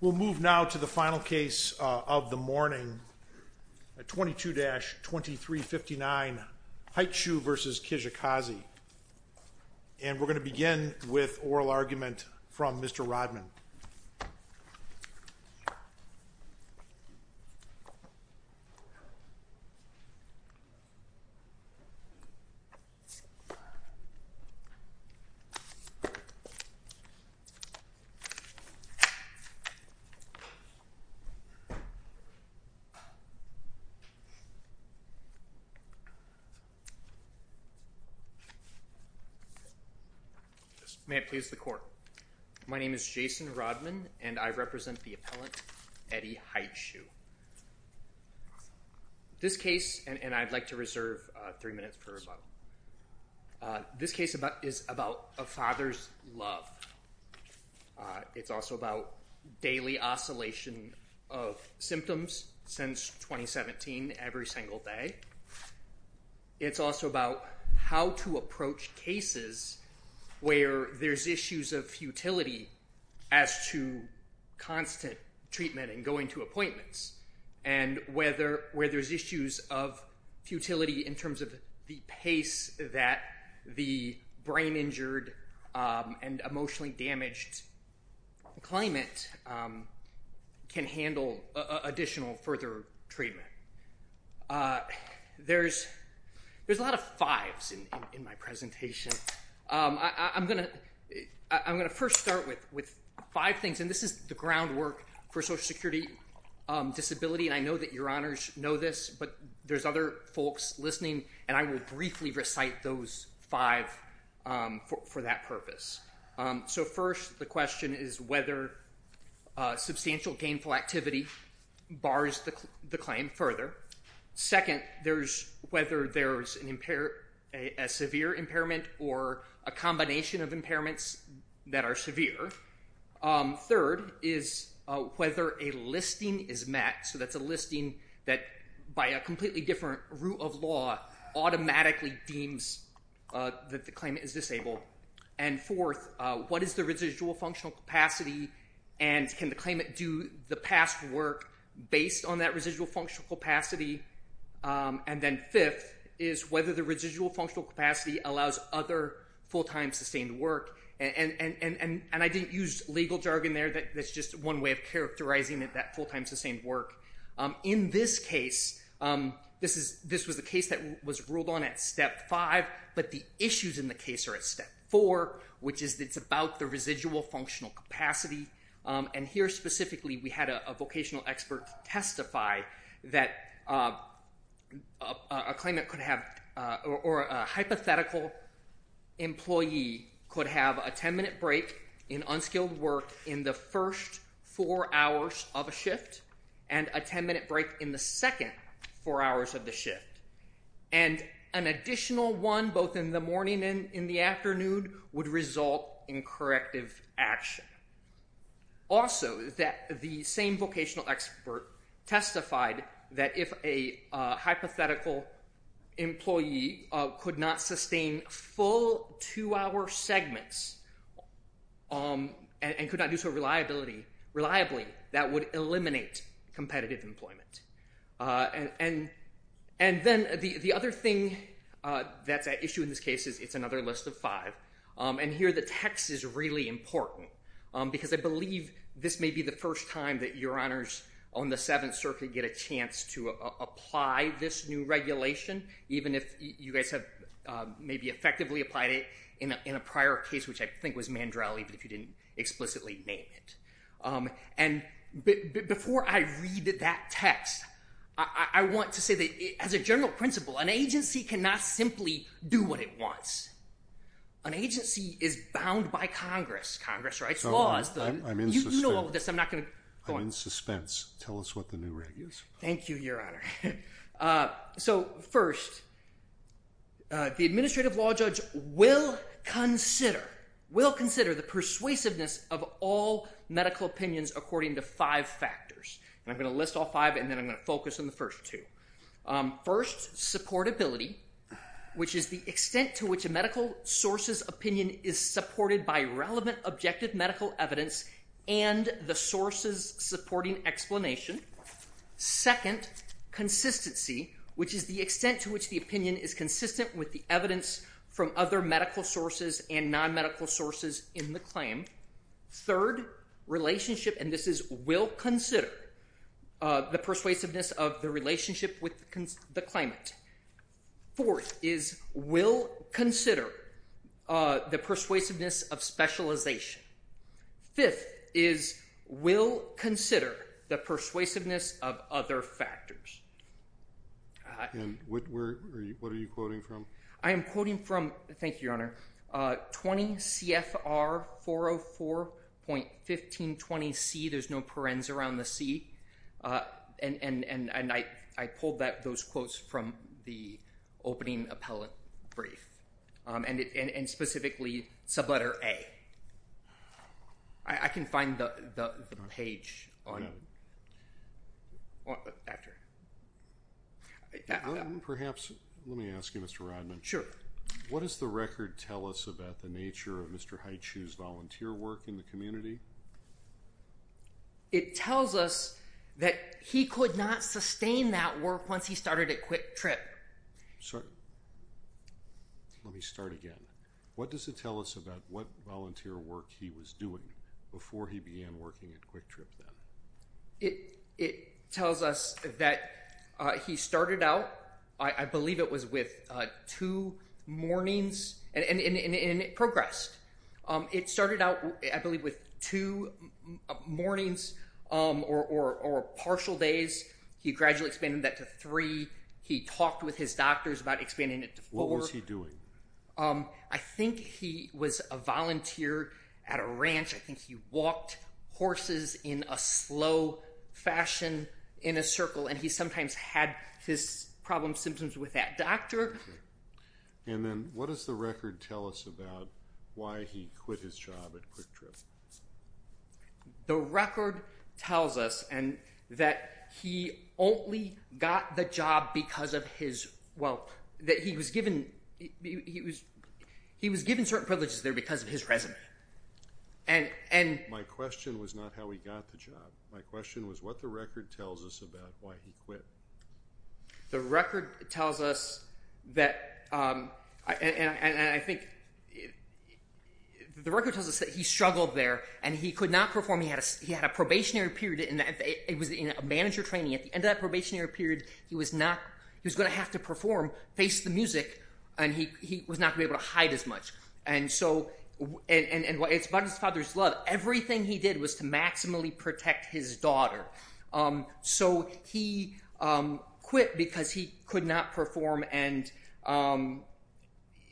We'll move now to the final case of the morning, 22-2359 Hightshoe v. Kijakazi, and we're going to begin with oral argument from Mr. Rodman. May it please the court. My name is Jason Rodman, and I represent the appellant Eddie Hightshoe. This case, and I'd like to reserve three minutes for rebuttal, this case is about a father's love. It's also about daily oscillation of symptoms since 2017, every single day. It's also about how to approach cases where there's issues of futility as to constant treatment and going to appointments, and where there's issues of futility in terms of the pace that the brain injured and emotionally damaged climate can handle additional further treatment. There's a lot of fives in my presentation. I'm going to first start with five things, and this is the groundwork for social security disability, and I know that your honors know this, but there's other folks listening, and I will briefly recite those five for that purpose. First, the question is whether substantial gainful activity bars the claim further. Second, there's whether there's a severe impairment or a combination of impairments that are severe. Third is whether a listing is met, so that's a listing that by a completely different rule of law automatically deems that the claimant is disabled. And fourth, what is the residual functional capacity, and can the claimant do the past work based on that residual functional capacity? And then fifth is whether the residual functional capacity allows other full-time sustained work, and I didn't use legal jargon there. That's just one way of characterizing it, that full-time sustained work. In this case, this was the case that was ruled on at step five, but the issues in the case are at step four, which is it's about the residual functional capacity, and here specifically we had a vocational expert testify that a hypothetical employee could have a 10-minute break in unskilled work in the first four hours of a shift, and a 10-minute break in the second four hours of the shift, and an additional one both in the morning and in the afternoon would result in corrective action. Also, the same vocational expert testified that if a hypothetical employee could not sustain full two-hour segments and could not do so reliably, that would eliminate competitive employment. And then the other thing that's at issue in this case is it's another list of five, and here the text is really important, because I believe this may be the first time that your honors on the Seventh Circuit get a chance to apply this new regulation, even if you guys have maybe effectively applied it in a prior case, which I think was Mandrell, even if you didn't explicitly name it. And before I read that text, I want to say that as a general principle, an agency cannot simply do what it wants. An agency is bound by Congress. Congress writes laws. I'm in suspense. You know all of this. I'm not going to go on. I'm in suspense. Tell us what the new regulation is. Thank you, Your Honor. So first, the administrative law judge will consider the persuasiveness of all medical opinions according to five factors. And I'm going to list all five, and then I'm going to focus on the first two. First, supportability, which is the extent to which a medical source's opinion is supported by relevant objective medical evidence and the source's supporting explanation. Second, consistency, which is the extent to which the opinion is consistent with the evidence from other medical sources and non-medical sources in the claim. Third, relationship, and this is will consider the persuasiveness of the relationship with the claimant. Fourth is will consider the persuasiveness of specialization. Fifth is will consider the persuasiveness of other factors. And what are you quoting from? I am quoting from, thank you, Your Honor, 20 CFR 404.1520C. There's no parens around the C. And I pulled those quotes from the opening appellate brief, and specifically sub-letter A. I can find the page. Perhaps, let me ask you, Mr. Rodman. Sure. What does the record tell us about the nature of Mr. Haichu's volunteer work in the community? It tells us that he could not sustain that work once he started at Quick Trip. Let me start again. What does it tell us about what volunteer work he was doing before he began working at Quick Trip then? It tells us that he started out, I believe it was with two mornings and progressed. It started out, I believe, with two mornings or partial days. He gradually expanded that to three. He talked with his doctors about expanding it to four. What was he doing? I think he was a volunteer at a ranch. I think he walked horses in a slow fashion in a circle. And he sometimes had his problem symptoms with that doctor. And then what does the record tell us about why he quit his job at Quick Trip? The record tells us that he only got the job because of his wealth. He was given certain privileges there because of his resume. My question was not how he got the job. My question was what the record tells us about why he quit. The record tells us that he struggled there and he could not perform. He had a probationary period. It was in a manager training. At the end of that probationary period, he was going to have to perform, face the music, and he was not going to be able to hide as much. And it's about his father's love. Everything he did was to maximally protect his daughter. So he quit because he could not perform and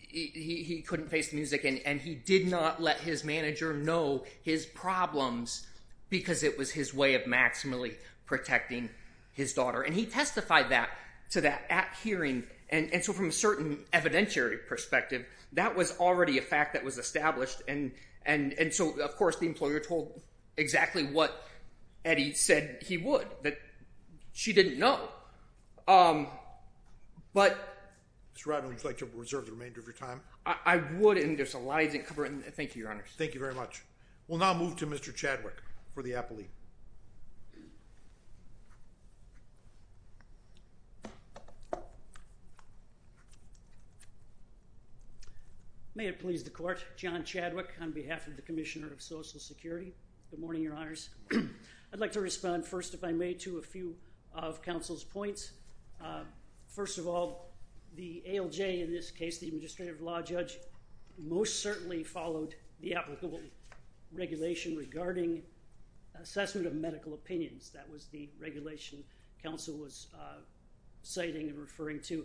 he couldn't face the music. And he did not let his manager know his problems because it was his way of maximally protecting his daughter. And he testified to that at hearing. And so from a certain evidentiary perspective, that was already a fact that was established. And so, of course, the employer told exactly what Eddie said he would. She didn't know. Mr. Rodman, would you like to reserve the remainder of your time? I would and there's a lot I didn't cover. Thank you, Your Honor. Thank you very much. We'll now move to Mr. Chadwick for the appellee. May it please the Court. John Chadwick on behalf of the Commissioner of Social Security. Good morning, Your Honors. I'd like to respond first, if I may, to a few of counsel's points. First of all, the ALJ in this case, the Administrative Law Judge, most certainly followed the applicable regulation regarding assessment of medical opinions. That was the regulation counsel was citing and referring to.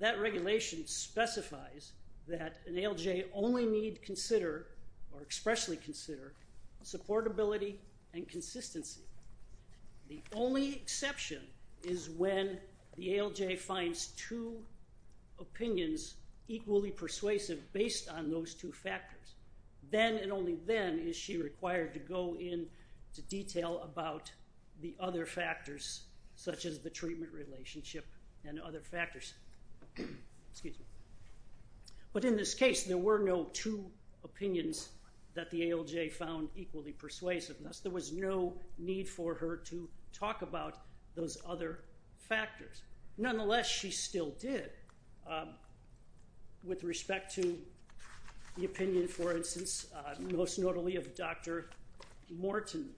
That regulation specifies that an ALJ only need consider or expressly consider supportability and consistency. The only exception is when the ALJ finds two opinions equally persuasive based on those two factors. Then and only then is she required to go into detail about the other factors, such as the treatment relationship and other factors. But in this case, there were no two opinions that the ALJ found equally persuasive. Thus, there was no need for her to talk about those other factors. Nonetheless, she still did. With respect to the opinion, for instance, most notably of Dr. Morton.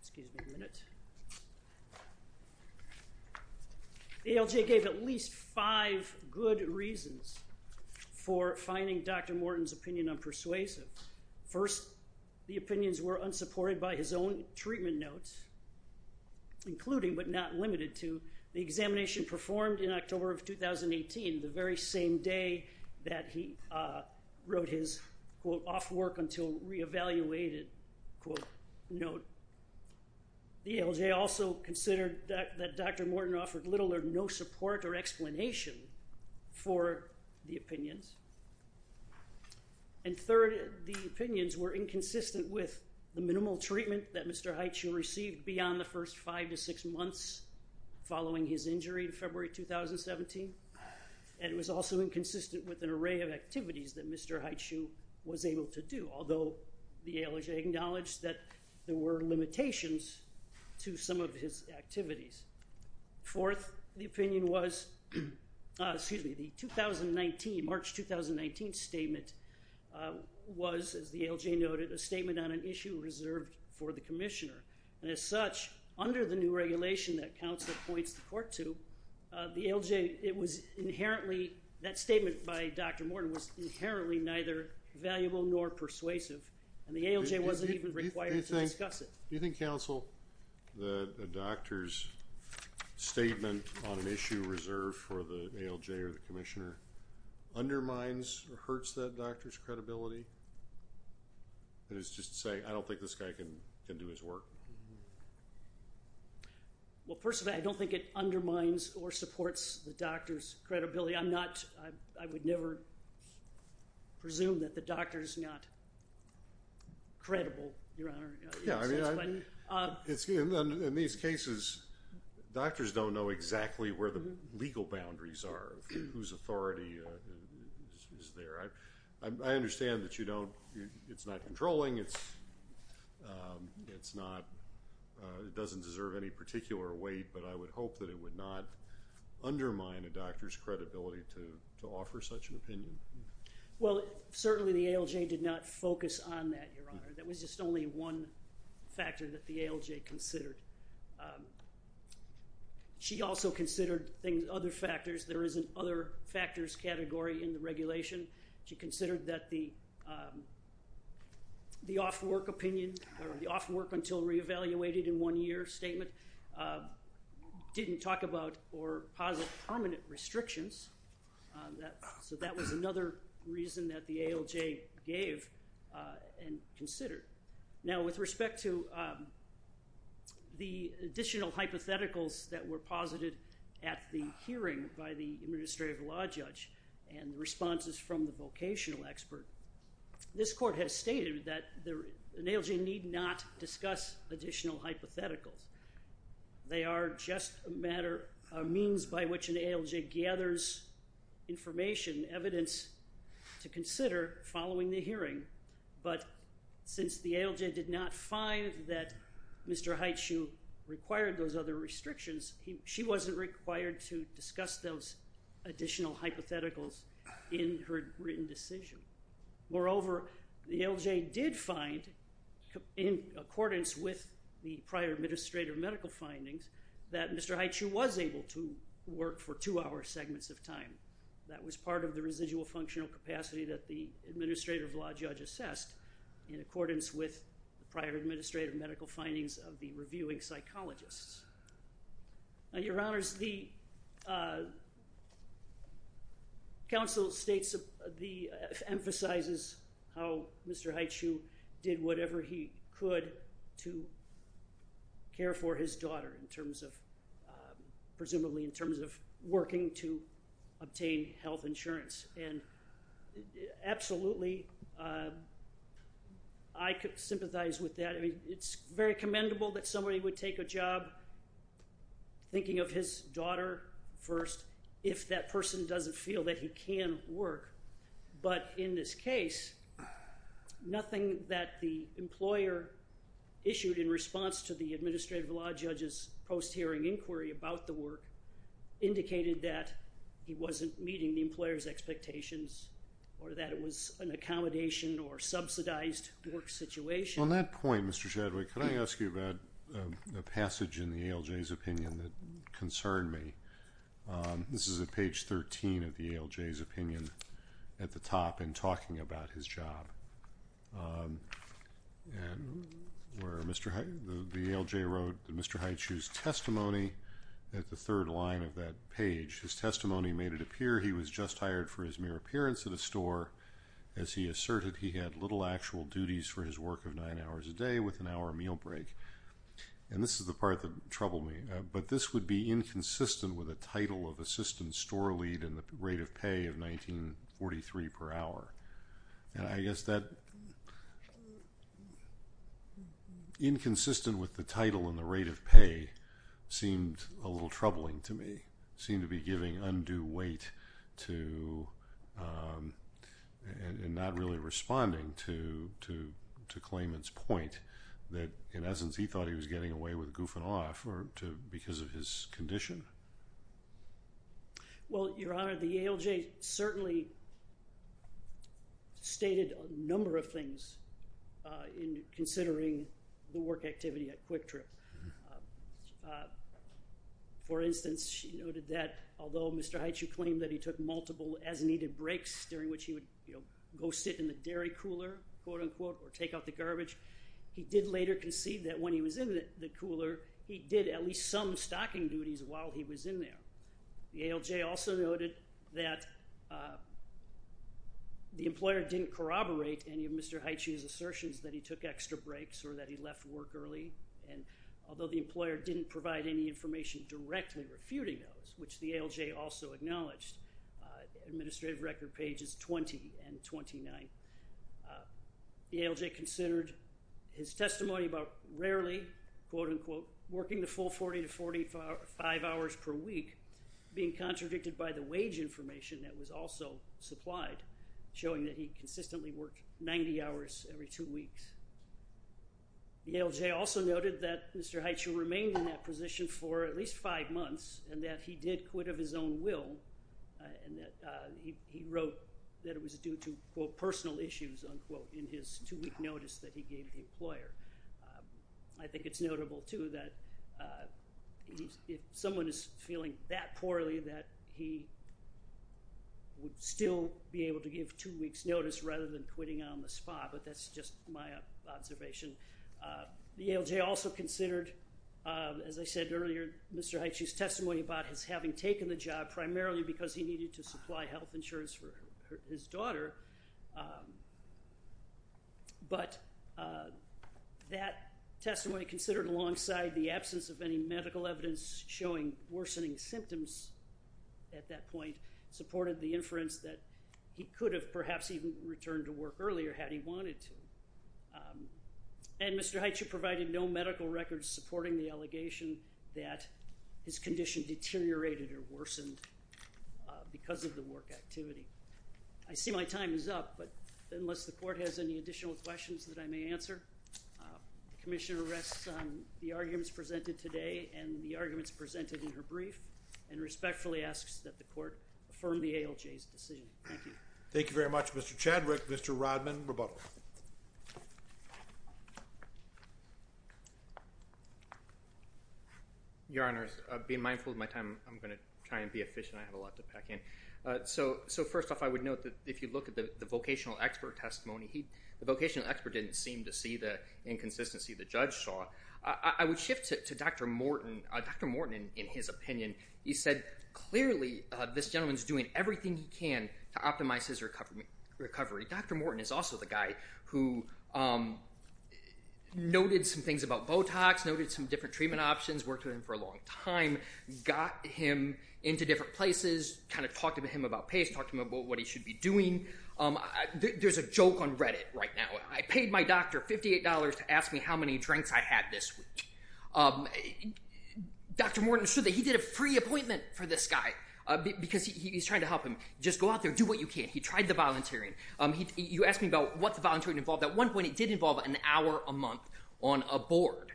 Excuse me a minute. The ALJ gave at least five good reasons for finding Dr. Morton's opinion unpersuasive. First, the opinions were unsupported by his own treatment notes, including but not limited to the examination performed in October of 2018, the very same day that he wrote his, quote, off work until re-evaluated, quote, note. The ALJ also considered that Dr. Morton offered little or no support or explanation for the opinions. And third, the opinions were inconsistent with the minimal treatment that Mr. Heitschel received beyond the first five to six months following his injury in February 2017. And it was also inconsistent with an array of activities that Mr. Heitschel was able to do, although the ALJ acknowledged that there were limitations to some of his activities. Fourth, the opinion was, excuse me, the 2019, March 2019 statement was, as the ALJ noted, a statement on an issue reserved for the commissioner. And as such, under the new regulation that counsel points the court to, the ALJ, it was inherently, that statement by Dr. Morton was inherently neither valuable nor persuasive, and the ALJ wasn't even required to discuss it. Do you think, counsel, that a doctor's statement on an issue reserved for the ALJ or the commissioner undermines or hurts that doctor's credibility? And it's just to say, I don't think this guy can do his work. Well, personally, I don't think it undermines or supports the doctor's credibility. I'm not, I would never presume that the doctor is not credible, Your Honor. Yeah, I mean, in these cases, doctors don't know exactly where the legal boundaries are, whose authority is there. I understand that you don't, it's not controlling, it's not, it doesn't deserve any particular weight, but I would hope that it would not undermine a doctor's credibility to offer such an opinion. Well, certainly the ALJ did not focus on that, Your Honor. That was just only one factor that the ALJ considered. She also considered other factors. There is an other factors category in the regulation. She considered that the off-work opinion, or the off-work until re-evaluated in one year statement, didn't talk about or posit permanent restrictions. So that was another reason that the ALJ gave and considered. Now, with respect to the additional hypotheticals that were posited at the hearing by the administrative law judge and responses from the vocational expert, this court has stated that an ALJ need not discuss additional hypotheticals. They are just a matter of means by which an ALJ gathers information, evidence to consider following the hearing. But since the ALJ did not find that Mr. Haichu required those other restrictions, she wasn't required to discuss those additional hypotheticals in her written decision. Moreover, the ALJ did find, in accordance with the prior administrative medical findings, that Mr. Haichu was able to work for two-hour segments of time. That was part of the residual functional capacity that the administrative law judge assessed in accordance with the prior administrative medical findings of the reviewing psychologists. Your Honors, the counsel emphasizes how Mr. Haichu did whatever he could to care for his daughter, presumably in terms of working to obtain health insurance. Absolutely, I sympathize with that. It's very commendable that somebody would take a job thinking of his daughter first, if that person doesn't feel that he can work. But in this case, nothing that the employer issued in response to the administrative law judge's post-hearing inquiry about the work indicated that he wasn't meeting the employer's expectations or that it was an accommodation or subsidized work situation. On that point, Mr. Chadwick, can I ask you about a passage in the ALJ's opinion that concerned me? This is at page 13 of the ALJ's opinion at the top in talking about his job. The ALJ wrote Mr. Haichu's testimony at the third line of that page. His testimony made it appear he was just hired for his mere appearance at a store as he asserted he had little actual duties for his work of nine hours a day with an hour meal break. This is the part that troubled me, but this would be inconsistent with the title of assistant store lead and the rate of pay of $19.43 per hour. Inconsistent with the title and the rate of pay seemed a little troubling to me. It seemed to be giving undue weight and not really responding to Clayman's point that in essence he thought he was getting away with goofing off because of his condition. Well, Your Honor, the ALJ certainly stated a number of things in considering the work activity at Quick Trip. For instance, she noted that although Mr. Haichu claimed that he took multiple as-needed breaks during which he would go sit in the dairy cooler, quote-unquote, or take out the garbage, he did later concede that when he was in the cooler, he did at least some stocking duties while he was in there. The ALJ also noted that the employer didn't corroborate any of Mr. Haichu's assertions that he took extra breaks or that he left work early, and although the employer didn't provide any information directly refuting those, which the ALJ also acknowledged, administrative record pages 20 and 29, the ALJ considered his testimony about rarely, quote-unquote, working the full 40 to 45 hours per week being contradicted by the wage information that was also supplied, showing that he consistently worked 90 hours every two weeks. The ALJ also noted that Mr. Haichu remained in that position for at least five months and that he did quit of his own will and that he wrote that it was due to, quote, personal issues, unquote, in his two-week notice that he gave the employer. I think it's notable, too, that if someone is feeling that poorly, that he would still be able to give two weeks' notice rather than quitting on the spot, but that's just my observation. The ALJ also considered, as I said earlier, Mr. Haichu's testimony about his having taken the job primarily because he needed to supply health insurance for his daughter, but that testimony considered alongside the absence of any medical evidence showing worsening symptoms at that point supported the inference that he could have perhaps even returned to work earlier had he wanted to. And Mr. Haichu provided no medical records supporting the allegation that his condition deteriorated or worsened because of the work activity. I see my time is up, but unless the Court has any additional questions that I may answer, the Commissioner rests on the arguments presented today and the arguments presented in her brief and respectfully asks that the Court affirm the ALJ's decision. Thank you. Thank you very much, Mr. Chadwick. Mr. Rodman, rebuttal. Your Honor, being mindful of my time, I'm going to try and be efficient. I have a lot to pack in. So first off, I would note that if you look at the vocational expert testimony, the vocational expert didn't seem to see the inconsistency the judge saw. I would shift to Dr. Morton. Dr. Morton, in his opinion, he said clearly this gentleman is doing everything he can to optimize his recovery. Dr. Morton is also the guy who noted some things about Botox, noted some different treatment options, worked with him for a long time, got him into different places, kind of talked to him about pace, talked to him about what he should be doing. There's a joke on Reddit right now. I paid my doctor $58 to ask me how many drinks I had this week. Dr. Morton said that he did a free appointment for this guy because he's trying to help him. Just go out there, do what you can. He tried the volunteering. You asked me about what the volunteering involved. At one point, it did involve an hour a month on a board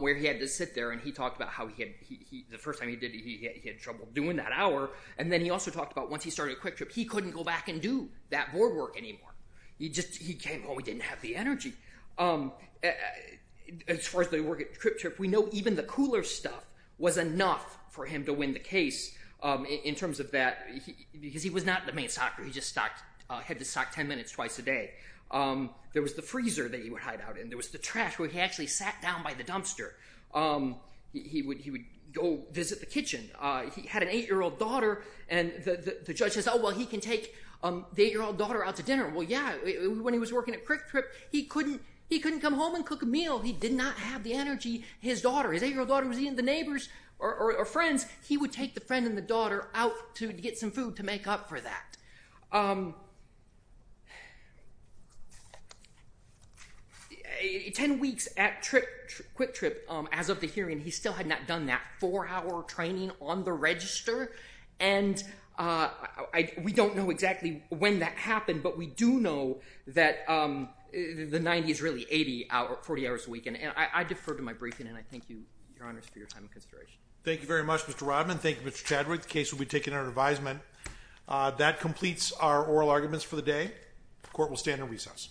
where he had to sit there, and he talked about how the first time he did it, he had trouble doing that hour. And then he also talked about once he started Quick Trip, he couldn't go back and do that board work anymore. He came home, he didn't have the energy. As far as they work at Quick Trip, we know even the cooler stuff was enough for him to win the case in terms of that because he was not the main stalker. He just had to stalk 10 minutes twice a day. There was the freezer that he would hide out in. There was the trash where he actually sat down by the dumpster. He would go visit the kitchen. He had an 8-year-old daughter, and the judge says, oh, well, he can take the 8-year-old daughter out to dinner. Well, yeah, when he was working at Quick Trip, he couldn't come home and cook a meal. He did not have the energy. His 8-year-old daughter was eating with the neighbors or friends. He would take the friend and the daughter out to get some food to make up for that. Ten weeks at Quick Trip, as of the hearing, he still had not done that four-hour training on the register. And we don't know exactly when that happened, but we do know that the 90 is really 40 hours a week. And I defer to my briefing, and I thank you, Your Honors, for your time and consideration. Thank you very much, Mr. Rodman. Thank you, Mr. Chadwick. The case will be taken under advisement. That completes our oral arguments for the day. Court will stand in recess.